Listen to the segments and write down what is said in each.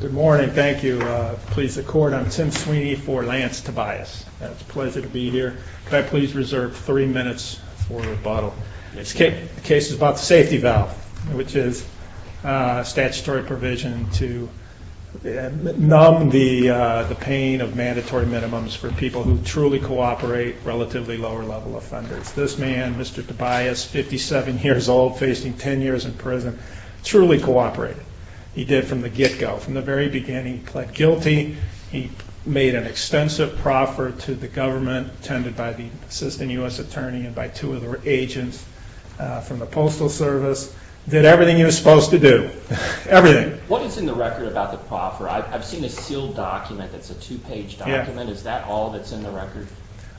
Good morning. Thank you. Please accord. I'm Tim Sweeney for Lance Tobias. It's a pleasure to be here. Could I please reserve three minutes for rebuttal? This case is about the safety valve, which is a statutory provision to numb the pain of mandatory minimums for people who truly cooperate with relatively lower level offenders. This man, Mr. Tobias, 57 years old, facing 10 years in prison, truly cooperated. He did from the get-go. From the very beginning, he pled guilty. He made an extensive proffer to the government, tended by the Assistant U.S. Attorney and by two of the agents from the Postal Service. Did everything he was supposed to do. Everything. What is in the record about the proffer? I've seen a sealed document that's a two-page document. Is that all that's in the record?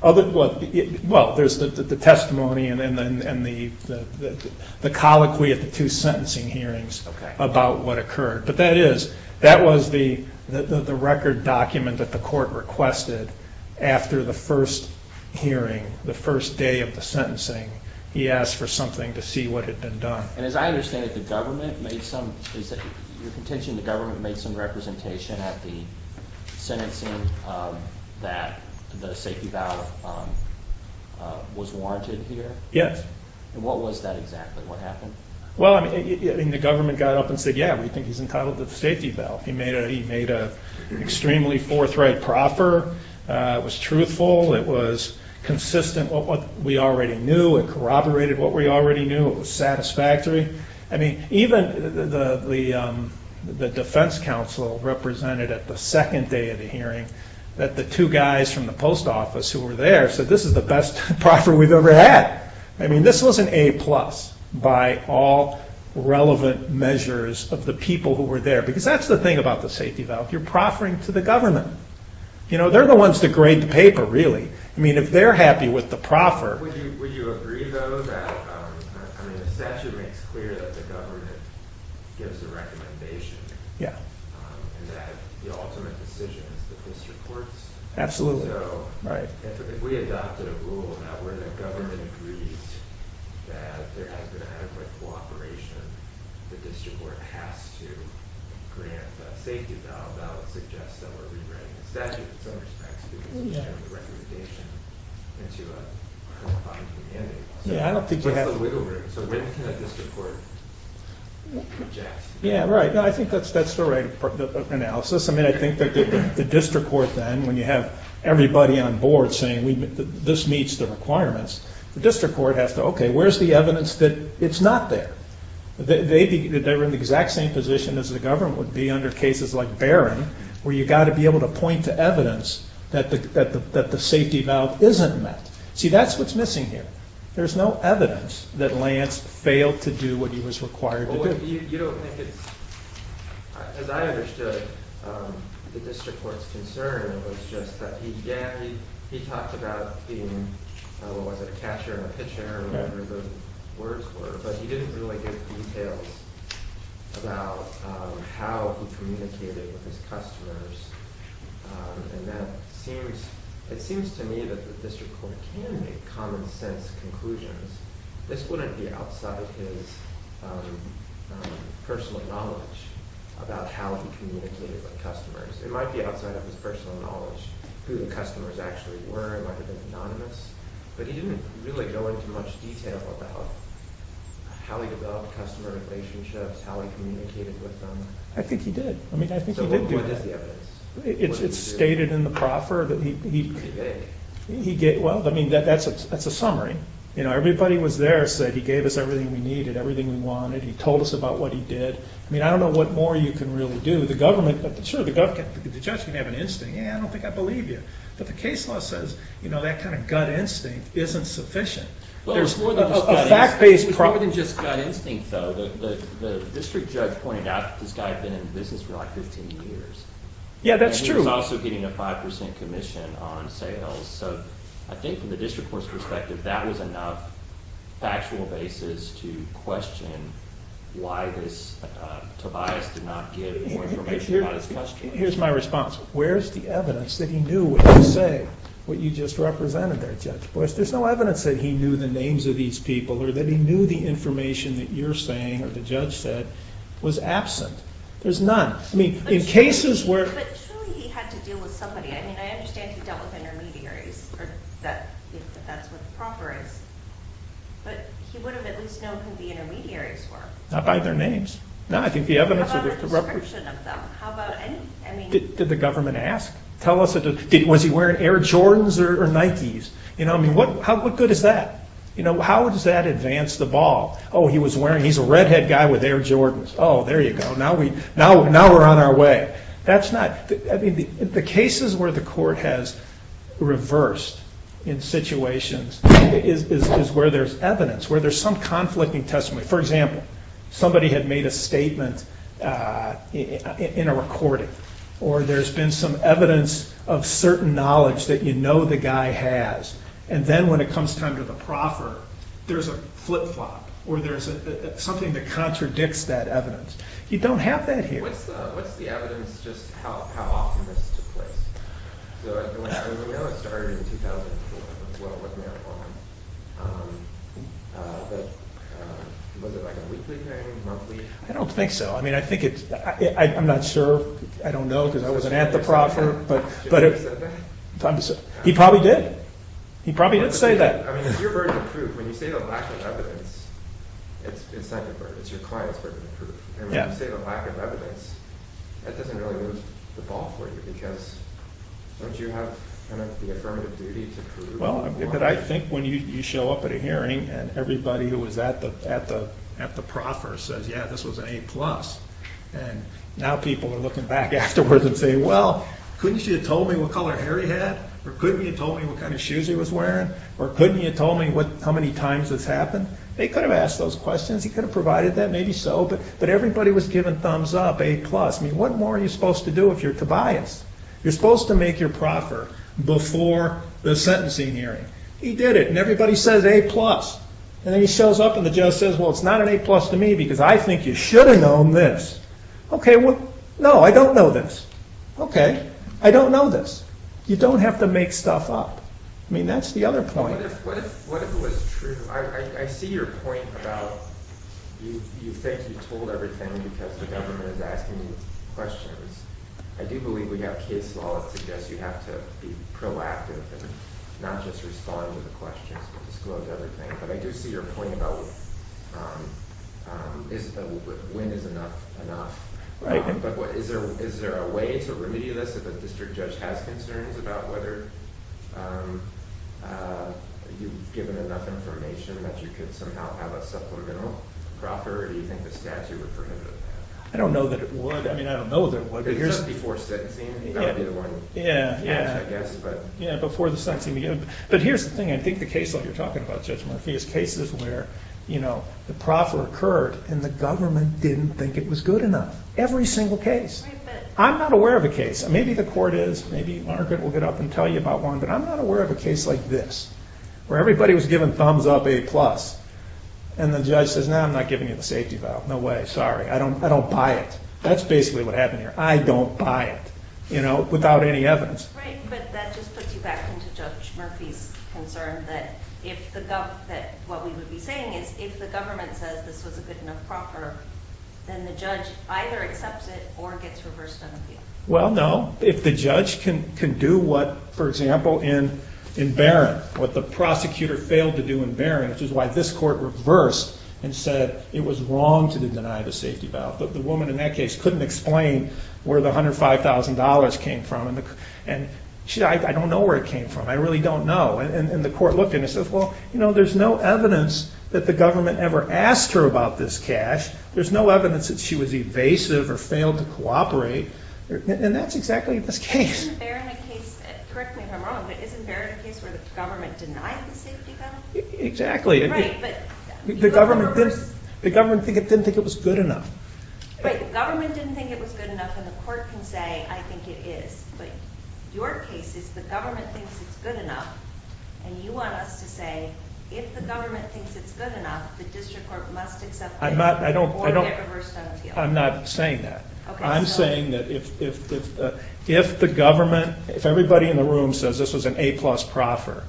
Well, there's the testimony and the colloquy at the two sentencing hearings about what occurred. But that is, that was the record document that the court requested after the first hearing, the first day of the sentencing. He asked for something to see what had been done. And as I understand it, the government made some, your contention, the government made some representation at the sentencing that the safety valve was warranted here? Yes. And what was that exactly? What happened? Well, I mean, the government got up and said, yeah, we think he's entitled to the safety valve. He made an extremely forthright proffer. It was truthful. It was consistent with what we already knew. It corroborated what we already knew. It was satisfactory. I mean, even the defense counsel represented at the second day of the hearing that the two guys from the post office who were there said, this is the best proffer we've ever had. I mean, this was an A plus by all relevant measures of the people who were there. Because that's the thing about the safety valve. You're proffering to the government. You know, they're the ones that grade the paper, really. I mean, if they're happy with the proffer. Would you agree, though, that, I mean, the statute makes clear that the government gives a recommendation. Yeah. And that the ultimate decision is the district courts. Absolutely. So, if we adopted a rule now where the government agrees that there is an adequate cooperation, the district court has to grant a safety valve. That would suggest that we're rewriting the statute in some respects, because it's just a recommendation into a modified mandate. Yeah, I don't think we have... So when can a district court object? Yeah, right. I think that's the right analysis. I mean, I think that the district court then, when you have everybody on board saying, this meets the requirements, the district court has to, okay, where's the evidence that it's not there? They were in the exact same position as the government would be under cases like Barron, where you've got to be able to point to evidence that the safety valve isn't met. See, that's what's missing here. There's no evidence that Lance failed to do what he was required to do. You don't think it's... As I understood the district court's concern, it was just that he talked about being, what the terms of the words were, but he didn't really give details about how he communicated with his customers. And that seems, it seems to me that the district court can make common sense conclusions. This wouldn't be outside of his personal knowledge about how he communicated with customers. It might be outside of his personal knowledge, who the customers actually were. It might have been anonymous. But he didn't really go into much detail about how he developed customer relationships, how he communicated with them. I think he did. I mean, I think he did do that. So what is the evidence? It's stated in the proffer that he... He did. Well, I mean, that's a summary. You know, everybody was there, said he gave us everything we needed, everything we wanted. He told us about what he did. I mean, I don't know what more you can really do. The government, sure, the judge can have an instinct. Yeah, I don't think I believe you. But the case law says, you know, that kind of gut instinct isn't sufficient. There's more than just gut instinct, though. The district judge pointed out that this guy had been in business for like 15 years. Yeah, that's true. And he was also getting a 5% commission on sales. So I think from the district court's perspective, that was enough factual basis to question why Tobias did not give more information about his customers. Here's my response. Where's the evidence that he knew what you say, what you just represented there, Judge Boyce? There's no evidence that he knew the names of these people or that he knew the information that you're saying or the judge said was absent. There's none. I mean, in cases where... But surely he had to deal with somebody. I mean, I understand he dealt with intermediaries, if that's what the proffer is. But he would have at least known who the intermediaries were. Not by their names. No, I think the How about the description of them? Did the government ask? Was he wearing Air Jordans or Nikes? What good is that? How does that advance the ball? Oh, he's a redhead guy with Air Jordans. Oh, there you go. Now we're on our way. The cases where the court has reversed in situations is where there's evidence, where there's some conflicting testimony. For example, somebody had made a statement in a recording. Or there's been some evidence of certain knowledge that you know the guy has. And then when it comes time to the proffer, there's a flip-flop or there's something that contradicts that evidence. You don't have that here. I don't think so. I mean, I think it's... I'm not sure. I don't know because I wasn't at the proffer. He probably did. He probably did say that. I think when you show up at a hearing and everybody who was at the proffer says, yeah, this was an A+. And now people are looking back afterwards and saying, well, couldn't you have told me what color hair he had? Or couldn't you have told me what kind of shoes he was wearing? Or couldn't you have told me how many times this happened? They could have asked those questions. He could have provided that. Maybe so. But everybody was giving thumbs up, A+. I mean, what more are you supposed to do if you're Tobias? You're supposed to make your proffer before the sentencing hearing. He did it and everybody says A+. And then he shows up and the judge says, well, it's not an A-plus to me because I think you should have known this. Okay, well, no, I don't know this. Okay, I don't know this. You don't have to make stuff up. I mean, that's the other point. What if it was true? I see your point about you think you told everything because the government is asking you questions. I do believe we have case law that suggests you have to be proactive and not just respond to the questions but disclose everything. But I do see your point about when is enough enough. But is there a way to remedy this if a district judge has concerns about whether you've given enough information that you could somehow have a supplemental proffer or do you think the statute would prohibit it? I don't know that it would. I mean, I don't know that it would. It's just before sentencing. Yeah, before the sentencing. But here's the thing. I think the case law you're talking about, Judge Murphy, is cases where the proffer occurred and the government didn't think it was good enough. Every single case. I'm not aware of a case. Maybe the court is. Maybe Margaret will get up and tell you about one. But I'm not aware of a case like this where everybody was giving thumbs up A+. And the judge says, no, I'm not giving you the safety valve. No way. Sorry. I don't buy it. That's basically what happened here. I don't buy it. You know, without any evidence. Right, but that just puts you back into Judge Murphy's concern that what we would be saying is if the government says this was a good enough proffer, then the judge either accepts it or gets reversed on the field. Well, no. If the judge can do what, for example, in Barron, what the prosecutor failed to do in Barron, which is why this court reversed and said it was wrong to deny the safety valve. But the woman in that case couldn't explain where the $105,000 came from. And she said, I don't know where it came from. I really don't know. And the court looked at it and said, well, you know, there's no evidence that the government ever asked her about this cash. There's no evidence that she was evasive or failed to cooperate. And that's exactly this case. And isn't Barron a case, correct me if I'm wrong, but isn't Barron a case where the government denied the safety valve? Exactly. Right, but The government didn't think it was good enough. Right, the government didn't think it was good enough. And the court can say, I think it is. But your case is the government thinks it's good enough. And you want us to say, if the government thinks it's good enough, the district court must accept it. I'm not saying that. I'm saying that if the government, if everybody in the room says this was an A-plus proffer,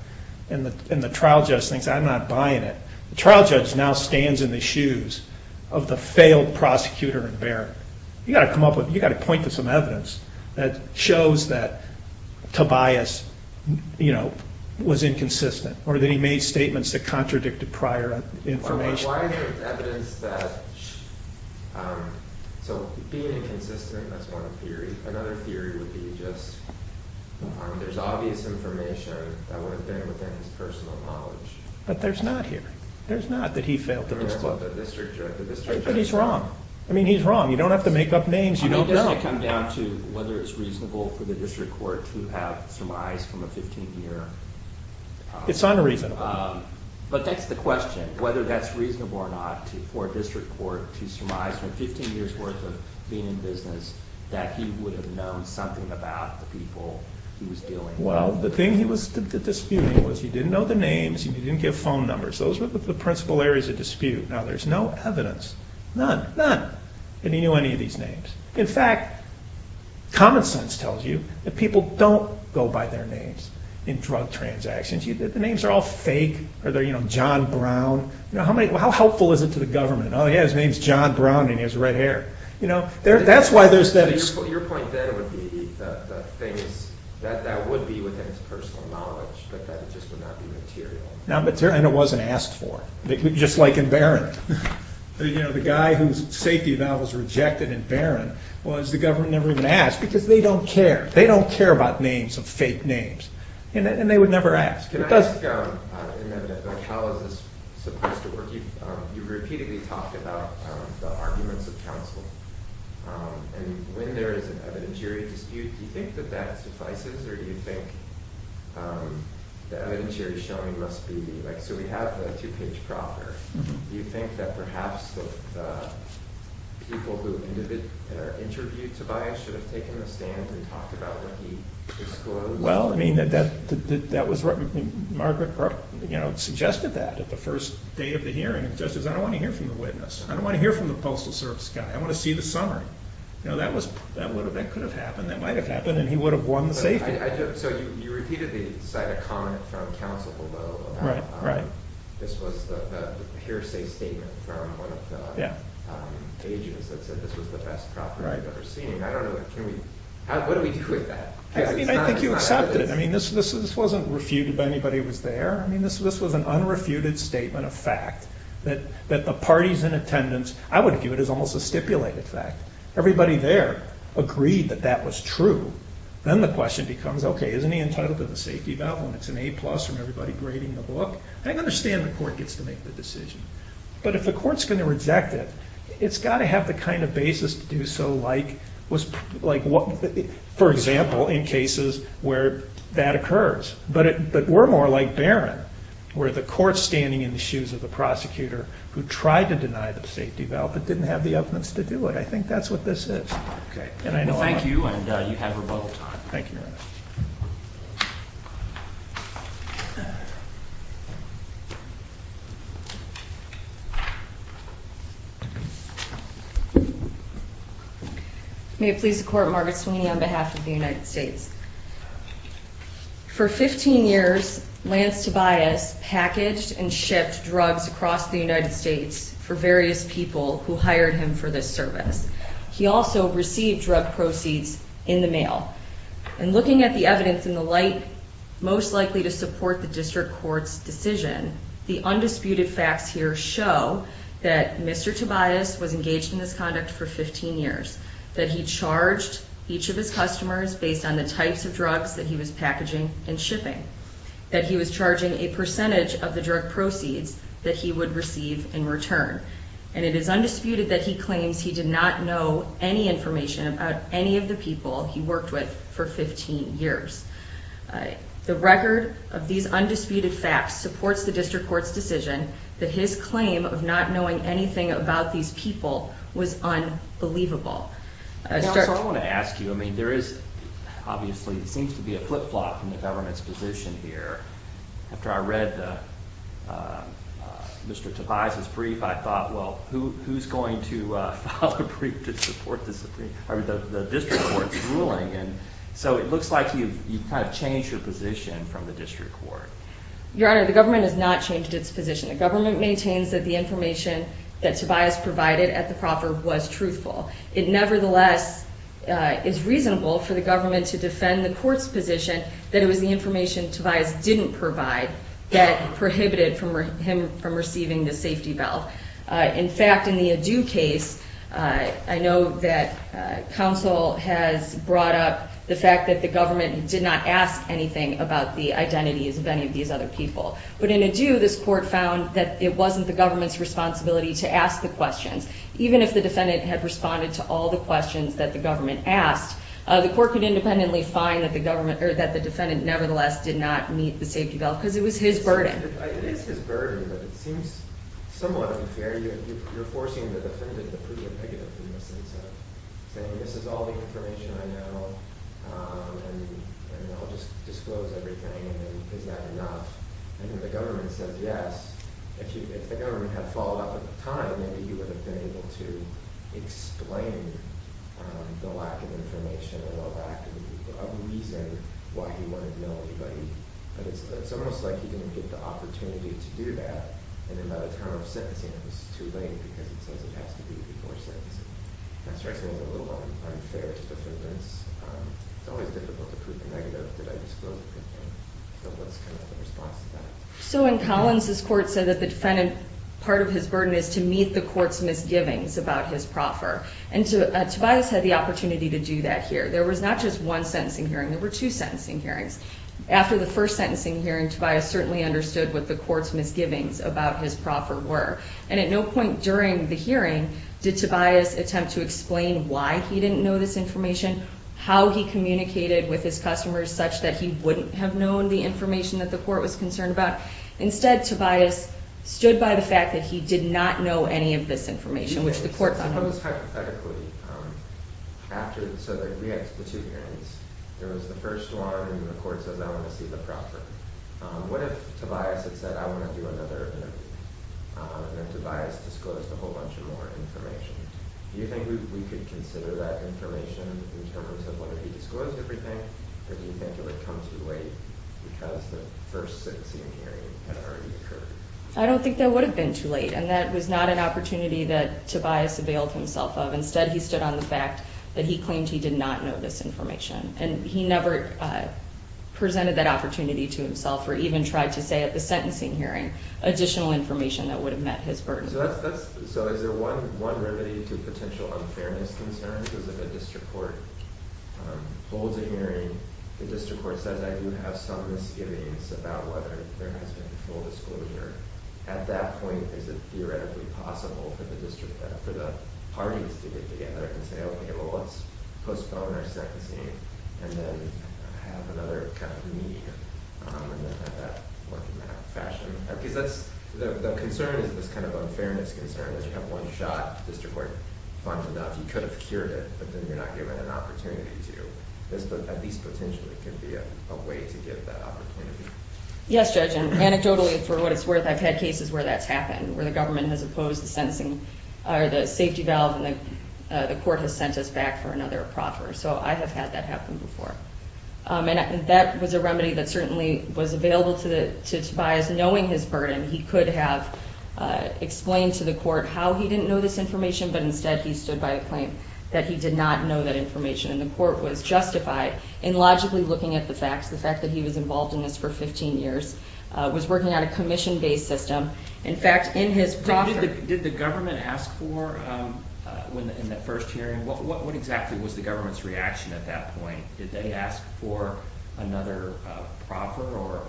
and the trial judge thinks, I'm not buying it, the trial judge now stands in the shoes of the failed prosecutor in Barron. You've got to point to some evidence that shows that Tobias, you know, was inconsistent, or that he made statements that contradicted prior information. Why is there evidence that, so being inconsistent, that's one theory. Another theory would be just, there's obvious information that would have been within his personal knowledge. But there's not here. There's not that he failed to disclose. But the district judge But he's wrong. I mean, he's wrong. You don't have to make up names. You don't know. It's unreasonable. Well, the thing he was disputing was he didn't know the names, he didn't give phone numbers. Those were the principal areas of dispute. Now, there's no evidence, none, none, that he knew any of these names. In fact, common sense tells you that people don't go by their names in drug transactions. The names are all fake. Are they, you know, John Brown? How helpful is it to the government? Oh, yeah, his name's John Brown and he has red hair. Your point then would be that that would be within his personal knowledge, but that it just would not be material. And it wasn't asked for, just like in Barron. You know, the guy whose safety valve was rejected in Barron was the government never even asked because they don't care. They don't care about names of fake names. And they would never ask. Can I ask how is this supposed to work? You repeatedly talk about the arguments of counsel and when there is an evidentiary dispute, do you think that that suffices or do you think the evidentiary showing must be, like, so we have a two-page proper. Do you think that perhaps the people who interviewed Tobias should have taken a stand and talked about what he disclosed? Well, I mean, that was what Margaret Brooke, you know, suggested that at the first day of the hearing. Just as I don't want to hear from the witness, I don't want to hear from the Postal Service guy. I want to see the summary. You know, that could have happened, that might have happened, and he would have won the safety. So you repeatedly cite a comment from counsel below about this was the hearsay statement from one of the agents that said this was the best property they've ever seen. I don't know, can we, what do we do with that? I mean, I think you accepted it. I mean, this wasn't refuted by anybody who was there. I that the parties in attendance, I would view it as almost a stipulated fact. Everybody there agreed that that was true. Then the question becomes, okay, isn't he entitled to the safety valve when it's an A-plus from everybody grading the book? I understand the court gets to make the decision, but if the court's going to reject it, it's got to have the kind of basis to do so like, for example, in cases where that occurs. But we're more like Barron, where the court's standing in the shoes of the prosecutor who tried to deny the safety valve but didn't have the evidence to do it. I think that's what this is. Okay. Well, thank you, and you have rebuttal time. Thank you, Your Honor. May it please the Court, Margaret Sweeney on behalf of the United States. For 15 years, Lance Tobias packaged and shipped drugs across the United States for various people who hired him for this service. He also received drug proceeds in the mail. And looking at the evidence in the light most likely to support the district court's decision, the undisputed facts here show that Mr. Tobias was engaged in this conduct for 15 years, that he charged each of his customers based on the types of drugs that he was packaging and shipping, that he was charging a percentage of the drug proceeds that he would receive in return. And it is undisputed that he claims he did not know any information about any of the people he worked with for 15 years. The record of these undisputed facts supports the district court's decision that his claim of not knowing anything about these people was unbelievable. Your Honor, the government has not changed its position. The government maintains that the information that Tobias provided at the proffer was truthful. It nevertheless is reasonable for the government to defend the court's position that it was the information Tobias didn't provide that prohibited him from receiving the safety belt. In fact, in the Adu case, I know that counsel has brought up the fact that the government did not ask anything about the identities of any of these other people. But in Adu, this court found that it wasn't the government's responsibility to ask the questions. Even if the defendant had responded to all the questions that the government asked, the court could independently find that the defendant nevertheless did not meet the safety belt because it was his burden. If the government had followed up at the time, maybe he would have been able to explain the lack of information and the lack of a reason why he wanted to know anybody. But it's almost like he didn't get the opportunity to do that. And then by the time of sentencing it was too late because it says it has to be before sentencing. That strikes me as a little unfair to defendants. It's always difficult to prove a negative. Did I disclose a good thing? So what's the response to that? So in Collins, this court said that the defendant, part of his burden is to meet the court's misgivings about his proffer. And Tobias had the opportunity to do that here. There was not just one sentencing hearing. There were two sentencing hearings. After the first sentencing hearing, Tobias certainly understood what the court's misgivings about his proffer were. And at no point during the hearing did Tobias attempt to explain why he didn't know this information, how he communicated with his customers such that he wouldn't have known the information that the court was concerned about. Instead, Tobias stood by the fact that he did not know any of this information, which the court found helpful. So it was hypothetically. So we had the two hearings. There was the first one and the court says, I want to see the proffer. What if Tobias had said, I want to do another interview? And then Tobias disclosed a whole bunch of more information. Do you think we could consider that information in terms of what if he disclosed everything? Or do you think it would come too late because the first sentencing hearing had already occurred? I don't think that would have been too late. And that was not an opportunity that Tobias availed himself of. Instead, he stood on the fact that he claimed he did not know this information. And he never presented that opportunity to himself or even tried to say at the sentencing hearing additional information that would have met his burden. So is there one remedy to potential unfairness concerns? If a district court holds a hearing, the district court says, I do have some misgivings about whether there has been full disclosure. At that point, is it theoretically possible for the parties to get together and say, okay, well, let's postpone our sentencing and then have another kind of meeting and then have that work in that fashion? Because the concern is this kind of unfairness concern. If you have one shot, the district court finds out you could have cured it, but then you're not given an opportunity to. This, at least potentially, could be a way to get that opportunity. Yes, Judge. And anecdotally, for what it's worth, I've had cases where that's happened, where the government has opposed the safety valve and the court has sent us back for another proffer. So I have had that happen before. And that was a remedy that certainly was available to Tobias. Knowing his burden, he could have explained to the court how he didn't know this information, but instead he stood by a claim that he did not know that information. And the court was justified in logically looking at the facts. The fact that he was involved in this for 15 years, was working on a commission-based system. In fact, in his proffer... Did the government ask for, in that first hearing, what exactly was the government's reaction at that point? Did they ask for another proffer or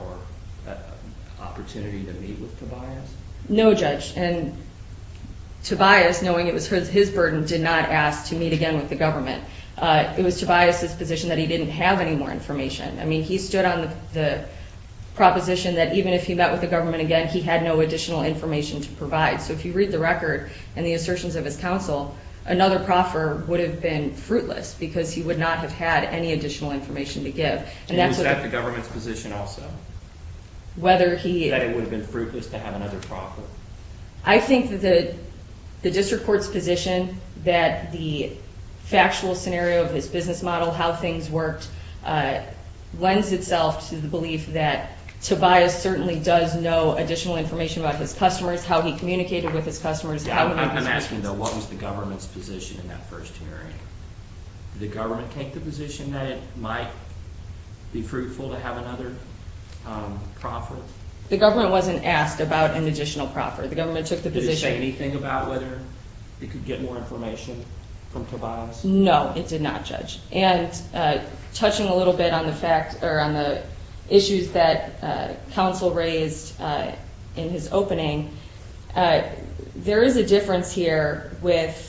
opportunity to meet with Tobias? No, Judge. And Tobias, knowing it was his burden, did not ask to meet again with the government. It was Tobias's position that he didn't have any more information. I mean, he stood on the proposition that even if he met with the government again, he had no additional information to provide. So if you read the record and the assertions of his counsel, another proffer would have been fruitless because he would not have had any additional information to give. And that's what... And was that the government's position also? Whether he... That it would have been fruitless to have another proffer? I think that the district court's position that the factual scenario of his business model, how things worked, lends itself to the belief that Tobias certainly does know additional information about his customers, how he communicated with his customers... I'm asking, though, what was the government's position in that first hearing? Did the government take the position that it might be fruitful to have another proffer? The government wasn't asked about an additional proffer. The government took the position... Did it say anything about whether it could get more information from Tobias? No, it did not judge. And touching a little bit on the issues that counsel raised in his opening, there is a difference here with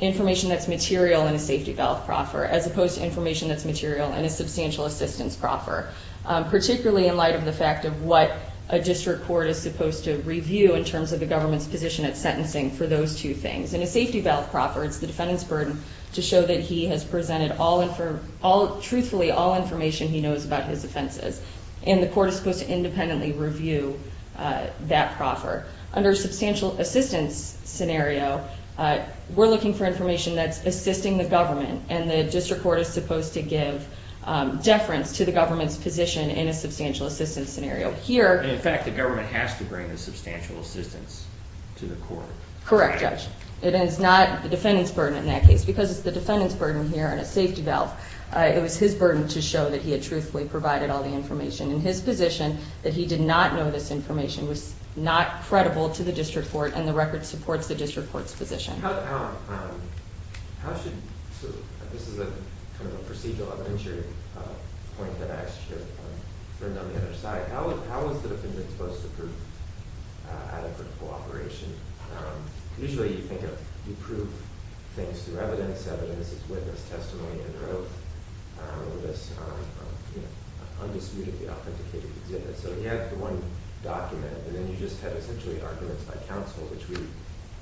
information that's material in a safety ballot proffer as opposed to information that's material in a substantial assistance proffer, particularly in light of the fact of what a district court is supposed to review in terms of the government's sentencing for those two things. In a safety ballot proffer, it's the defendant's burden to show that he has presented, truthfully, all information he knows about his offenses. And the court is supposed to independently review that proffer. Under a substantial assistance scenario, we're looking for information that's assisting the government. And the district court is supposed to give deference to the government's position in a substantial assistance scenario. And in fact, the government has to bring a substantial assistance to the court. Correct, Judge. It is not the defendant's burden in that case. Because it's the defendant's burden here in a safety belt, it was his burden to show that he had truthfully provided all the information in his position, that he did not know this information, was not credible to the district court, and the record supports the district court's position. This is a kind of a procedural evidentiary point that I should have turned on the other side. How is the defendant supposed to prove adequate cooperation? Usually, you think of you prove things through evidence. Evidence is witness, testimony, and oath in this undisputedly authenticated exhibit. So you have the one document, and then you just have essentially arguments by counsel, which we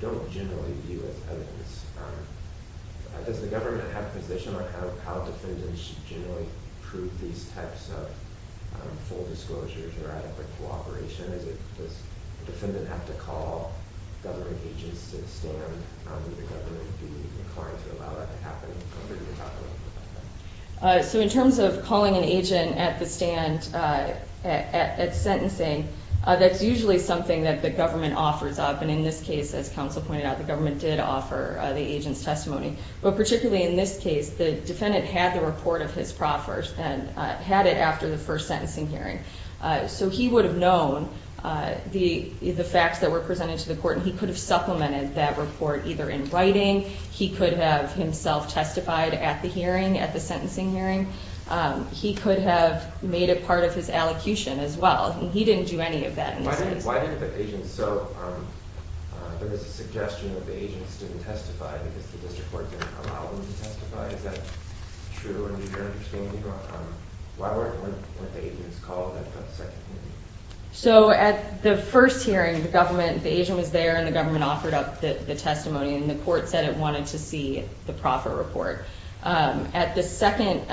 don't generally view as evidence. Does the government have a position on how defendants should generally prove these types of full disclosures or adequate cooperation? Does the defendant have to call government agents to the stand? Would the government be inclined to allow that to happen? So in terms of calling an agent at the stand, at sentencing, that's usually something that the government offers up. And in this case, as counsel pointed out, the government did offer the agent's testimony. But particularly in this case, the defendant had the report of his proffers and had it after the first sentencing hearing. So he would have known the facts that were presented to the court, and he could have supplemented that report either in writing, he could have himself testified at the hearing, at the sentencing hearing. He could have made it part of his allocution as well. He didn't do any of that. Why didn't the agents, there was a suggestion that the agents didn't testify because the district court didn't allow them to testify. Is that true? Why weren't the agents called at the second hearing? So at the first hearing, the agent was there and the government offered up the testimony, and the court said it wanted to see the proffer report. At the second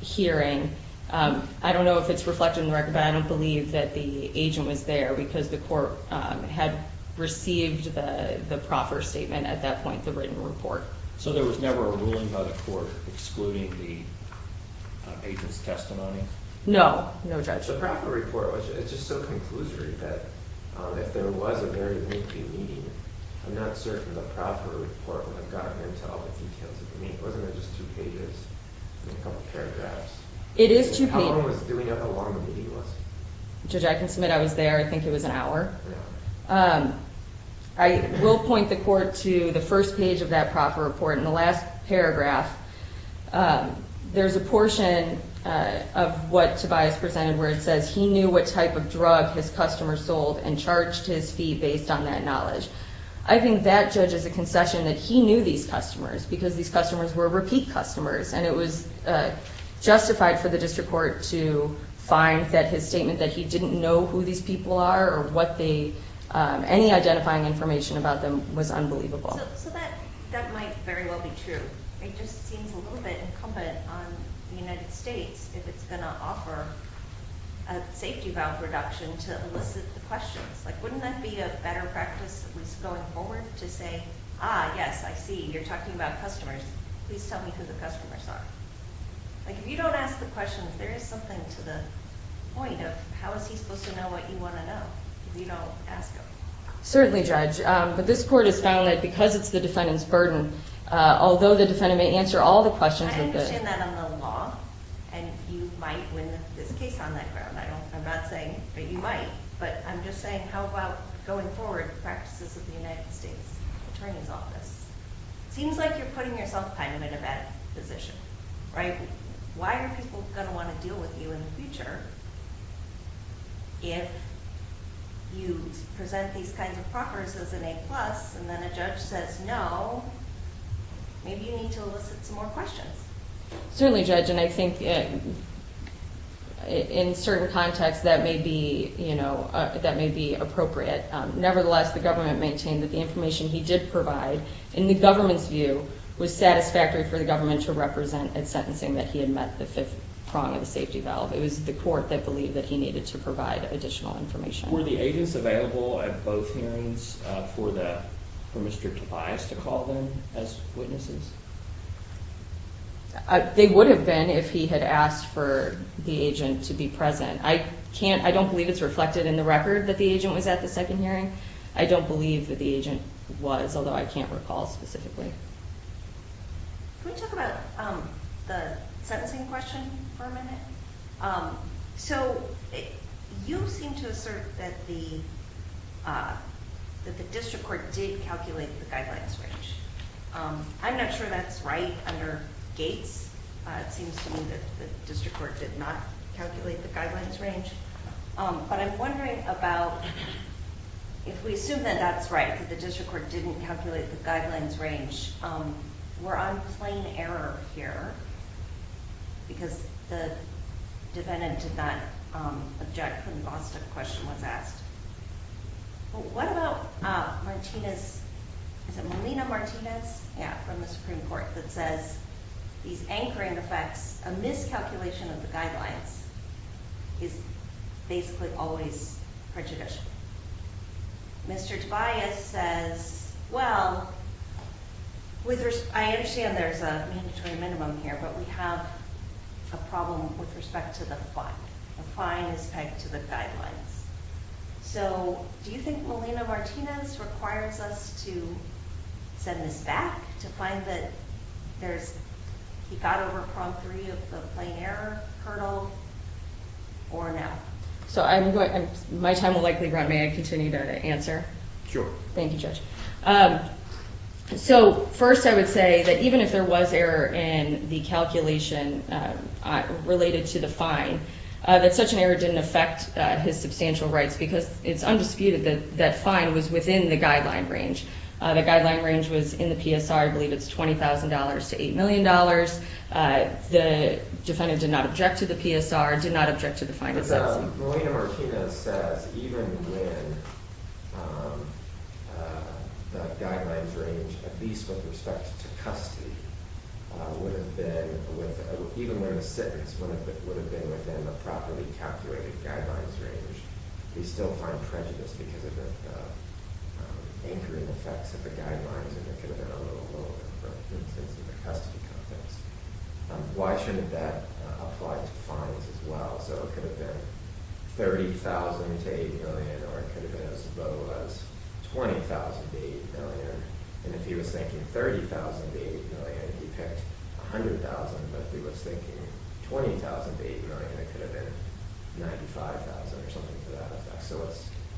hearing, I don't know if it's reflected in the record, but I don't believe that the agent was there because the court had received the proffer statement at that point, the written report. So there was never a ruling by the court excluding the agent's testimony? No, no judgment. The proffer report, it's just so conclusory that if there was a very lengthy meeting, I'm not certain the proffer report would have gotten into all the details of the meeting. Wasn't it just two pages and a couple paragraphs? It is two pages. How long was it? Do we know how long the meeting was? Judge, I can submit I was there. I think it was an hour. I will point the court to the first page of that proffer report. In the last paragraph, there's a portion of what Tobias presented where it says he knew what type of drug his customers sold and charged his fee based on that knowledge. I think that, Judge, is a concession that he knew these customers because these customers were repeat customers, and it was justified for the district court to find that his statement that he didn't know who these people are or any identifying information about them was unbelievable. So that might very well be true. It just seems a little bit incumbent on the United States if it's going to offer a safety valve reduction to elicit the questions. Wouldn't that be a better practice at least going forward to say, ah, yes, I see, you're Like, if you don't ask the questions, there is something to the point of how is he supposed to know what you want to know if you don't ask him? Certainly, Judge, but this court has found that because it's the defendant's burden, although the defendant may answer all the questions of the- I understand that on the law, and you might win this case on that ground. I'm not saying that you might, but I'm just saying how about going forward practices of the United States Attorney's Office? It seems like you're putting yourself kind of in a bad position, right? Why are people going to want to deal with you in the future if you present these kinds of properties as an A+, and then a judge says no, maybe you need to elicit some more questions. Certainly, Judge, and I think in certain contexts that may be, you know, that may be appropriate. Nevertheless, the government maintained that the information he did provide, in the government's view, was satisfactory for the government to represent in sentencing that he had met the fifth prong of the safety valve. It was the court that believed that he needed to provide additional information. Were the agents available at both hearings for Mr. Tobias to call them as witnesses? They would have been if he had asked for the agent to be present. I can't, I don't believe it's reflected in the record that the agent was at the second hearing. I don't believe that the agent was, although I can't recall specifically. Can we talk about the sentencing question for a minute? So you seem to assert that the district court did calculate the guidelines range. I'm not sure that's right under Gates. It seems to me that the district court did not calculate the guidelines range. But I'm wondering about, if we assume that that's right, that the district court didn't calculate the guidelines range, we're on plain error here because the defendant did not object when the Boston question was asked. What about Martinez, is it Molina Martinez? Yeah, from the Supreme Court, that says these anchoring effects, a miscalculation of the guidelines is basically always prejudicial. Mr. Tobias says, well, I understand there's a mandatory minimum here, but we have a problem with respect to the fine. The fine is pegged to the guidelines. So do you think Molina Martinez requires us to send this back to find that there's, he got over Prom 3 of the plain error hurdle or no? So I'm going, my time will likely run. May I continue to answer? Sure. Thank you, Judge. So first I would say that even if there was error in the calculation related to the fine, that such an error didn't affect his substantial rights because it's undisputed that that fine was within the guideline range. The guideline range was in the PSR, I believe it's $20,000 to $8 million. The defendant did not object to the PSR, did not object to the fine. Molina Martinez says even when the guidelines range, at least with respect to custody, would have been, even when the sentence would have been within the properly calculated guidelines range, they still find prejudice because of the anchoring effects of the guidelines and it could have been a little lower for instance in the custody context. Why shouldn't that apply to fines as well? So it could have been $30,000 to $8 million or it could have been as low as $20,000 to $8 million. And if he was thinking $30,000 to $8 million, he picked $100,000, but if he was thinking $20,000 to $8 million, it could have been $95,000 or something to that effect. So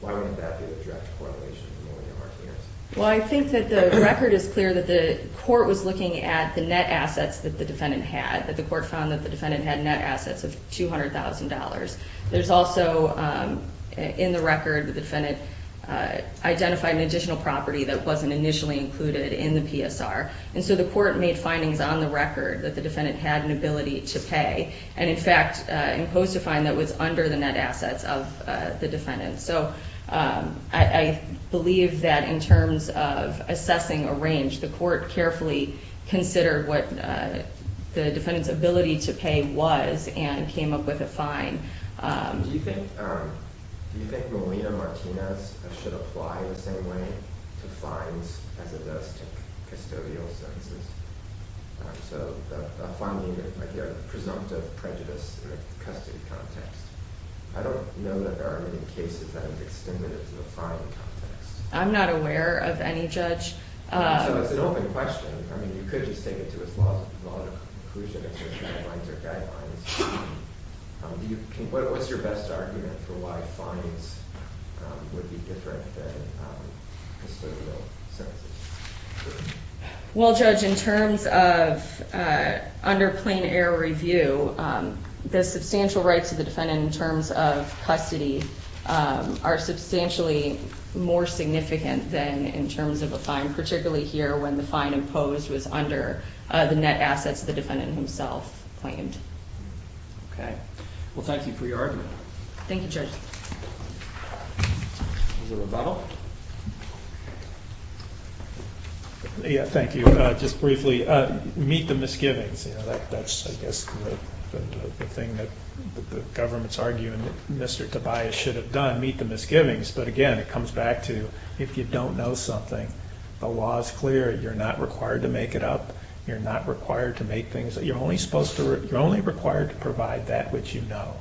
why wouldn't that be the direct correlation with Molina Martinez? Well, I think that the record is clear that the court was looking at the net assets that the defendant had, that the court found that the defendant had net assets of $200,000. There's also, in the record, the defendant identified an additional property that wasn't initially included in the PSR. And so the court made findings on the record that the defendant had an ability to pay and in fact imposed a fine that was under the net assets of the defendant. So I believe that in terms of assessing a range, the court carefully considered what the defendant's ability to pay was and came up with a fine. Do you think Molina Martinez should apply in the same way to fines as it does to custodial sentences? So the presumptive prejudice in a custody context. I don't know that there are any cases that have extended to the fine context. I'm not aware of any, Judge. So it's an open question. I mean, you could just take it to its logical conclusion if there's guidelines or guidelines. What's your best argument for why fines would be different than custodial sentences? Well, Judge, in terms of under plain error review, the substantial rights of the defendant in terms of custody are substantially more significant than in terms of a fine, particularly here when the fine imposed was under the net assets the defendant himself claimed. Okay. Well, thank you for your argument. Thank you, Judge. Is there a rebuttal? Yeah, thank you. Just briefly, meet the misgivings. That's, I guess, the thing that the government's arguing that Mr. Tobias should have done, meet the misgivings. But again, it comes back to if you don't know something, the law is clear. You're not required to make it up. You're not required to make things up. You're only required to provide that which you know.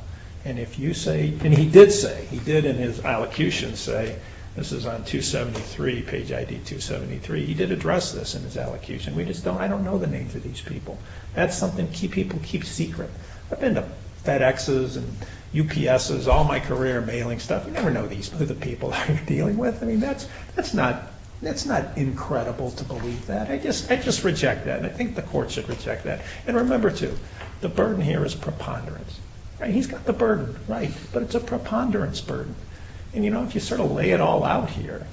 And if you say, and he did say, he did in his allocution say, this is on page ID 273, he did address this in his allocution. We just don't, I don't know the names of these people. That's something people keep secret. I've been to FedExes and UPSs, all my career mailing stuff. You never know who the people are you're dealing with. I mean, that's not incredible to believe that. I just reject that, and I think the court should reject that. And remember, too, the burden here is preponderance. He's got the burden, right, but it's a preponderance burden. And, you know, if you sort of lay it all out here,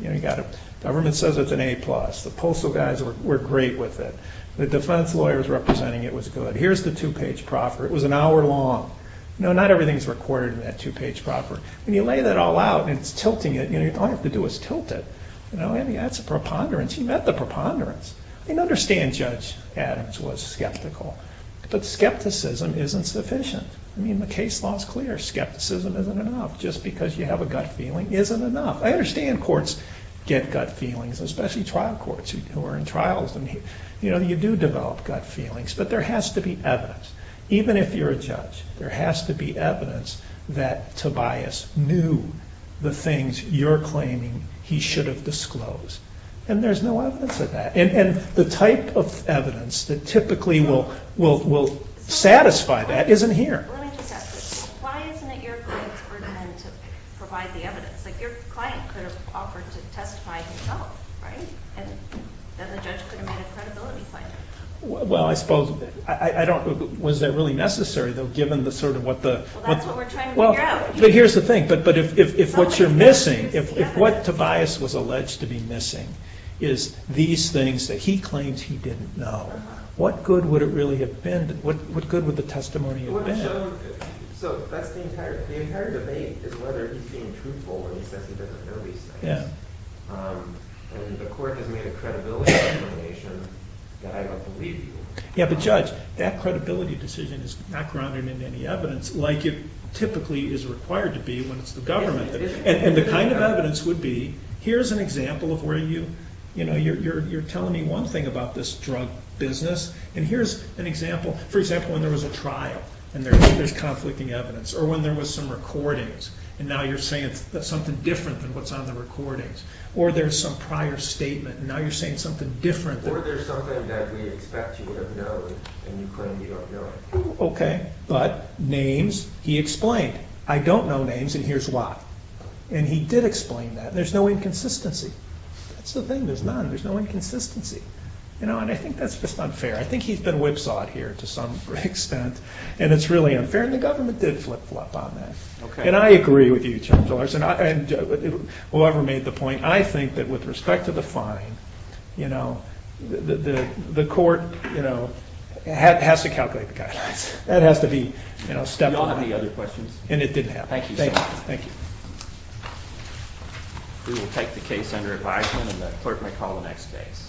government says it's an A+. The postal guys were great with it. The defense lawyers representing it was good. Here's the two-page proffer. It was an hour long. You know, not everything is recorded in that two-page proffer. When you lay that all out and it's tilting it, all you have to do is tilt it. That's preponderance. He met the preponderance. I understand Judge Adams was skeptical, but skepticism isn't sufficient. I mean, the case law is clear. Skepticism isn't enough. Just because you have a gut feeling isn't enough. I understand courts get gut feelings, especially trial courts who are in trials. You know, you do develop gut feelings, but there has to be evidence. Even if you're a judge, there has to be evidence that Tobias knew the things you're claiming he should have disclosed, and there's no evidence of that. And the type of evidence that typically will satisfy that isn't here. Let me just ask this. Why isn't it your client's burden then to provide the evidence? Like your client could have offered to testify himself, right? And then the judge could have made a credibility finding. Well, I suppose, I don't, was that really necessary though, given the sort of what the Well, that's what we're trying to figure out. But here's the thing, but if what you're missing, if what Tobias was alleged to be missing is these things that he claims he didn't know, what good would it really have been? What good would the testimony have been? So that's the entire, the entire debate is whether he's being truthful when he says he doesn't know these things. And the court has made a credibility determination that I don't believe he was. Yeah, but judge, that credibility decision is not grounded in any evidence like it typically is required to be when it's the government. And the kind of evidence would be, here's an example of where you, you know, you're telling me one thing about this drug business, and here's an example, for example, when there was a trial, and there's conflicting evidence. Or when there was some recordings, and now you're saying something different than what's on the recordings. Or there's some prior statement, and now you're saying something different than Or there's something that we expect you would have known, and you claim you don't know it. Okay, but names, he explained. I don't know names, and here's why. And he did explain that. There's no inconsistency. That's the thing, there's none, there's no inconsistency. You know, and I think that's just unfair. I think he's been whipsawed here to some extent, and it's really unfair, and the government did flip-flop on that. Okay. And I agree with you, Judge Larsen, and whoever made the point, I think that with respect to the fine, you know, the court, you know, has to calculate the guidelines. That has to be, you know, step one. Do you all have any other questions? And it didn't happen. Thank you so much. Thank you. We will take the case under advisement, and the clerk may call the next case.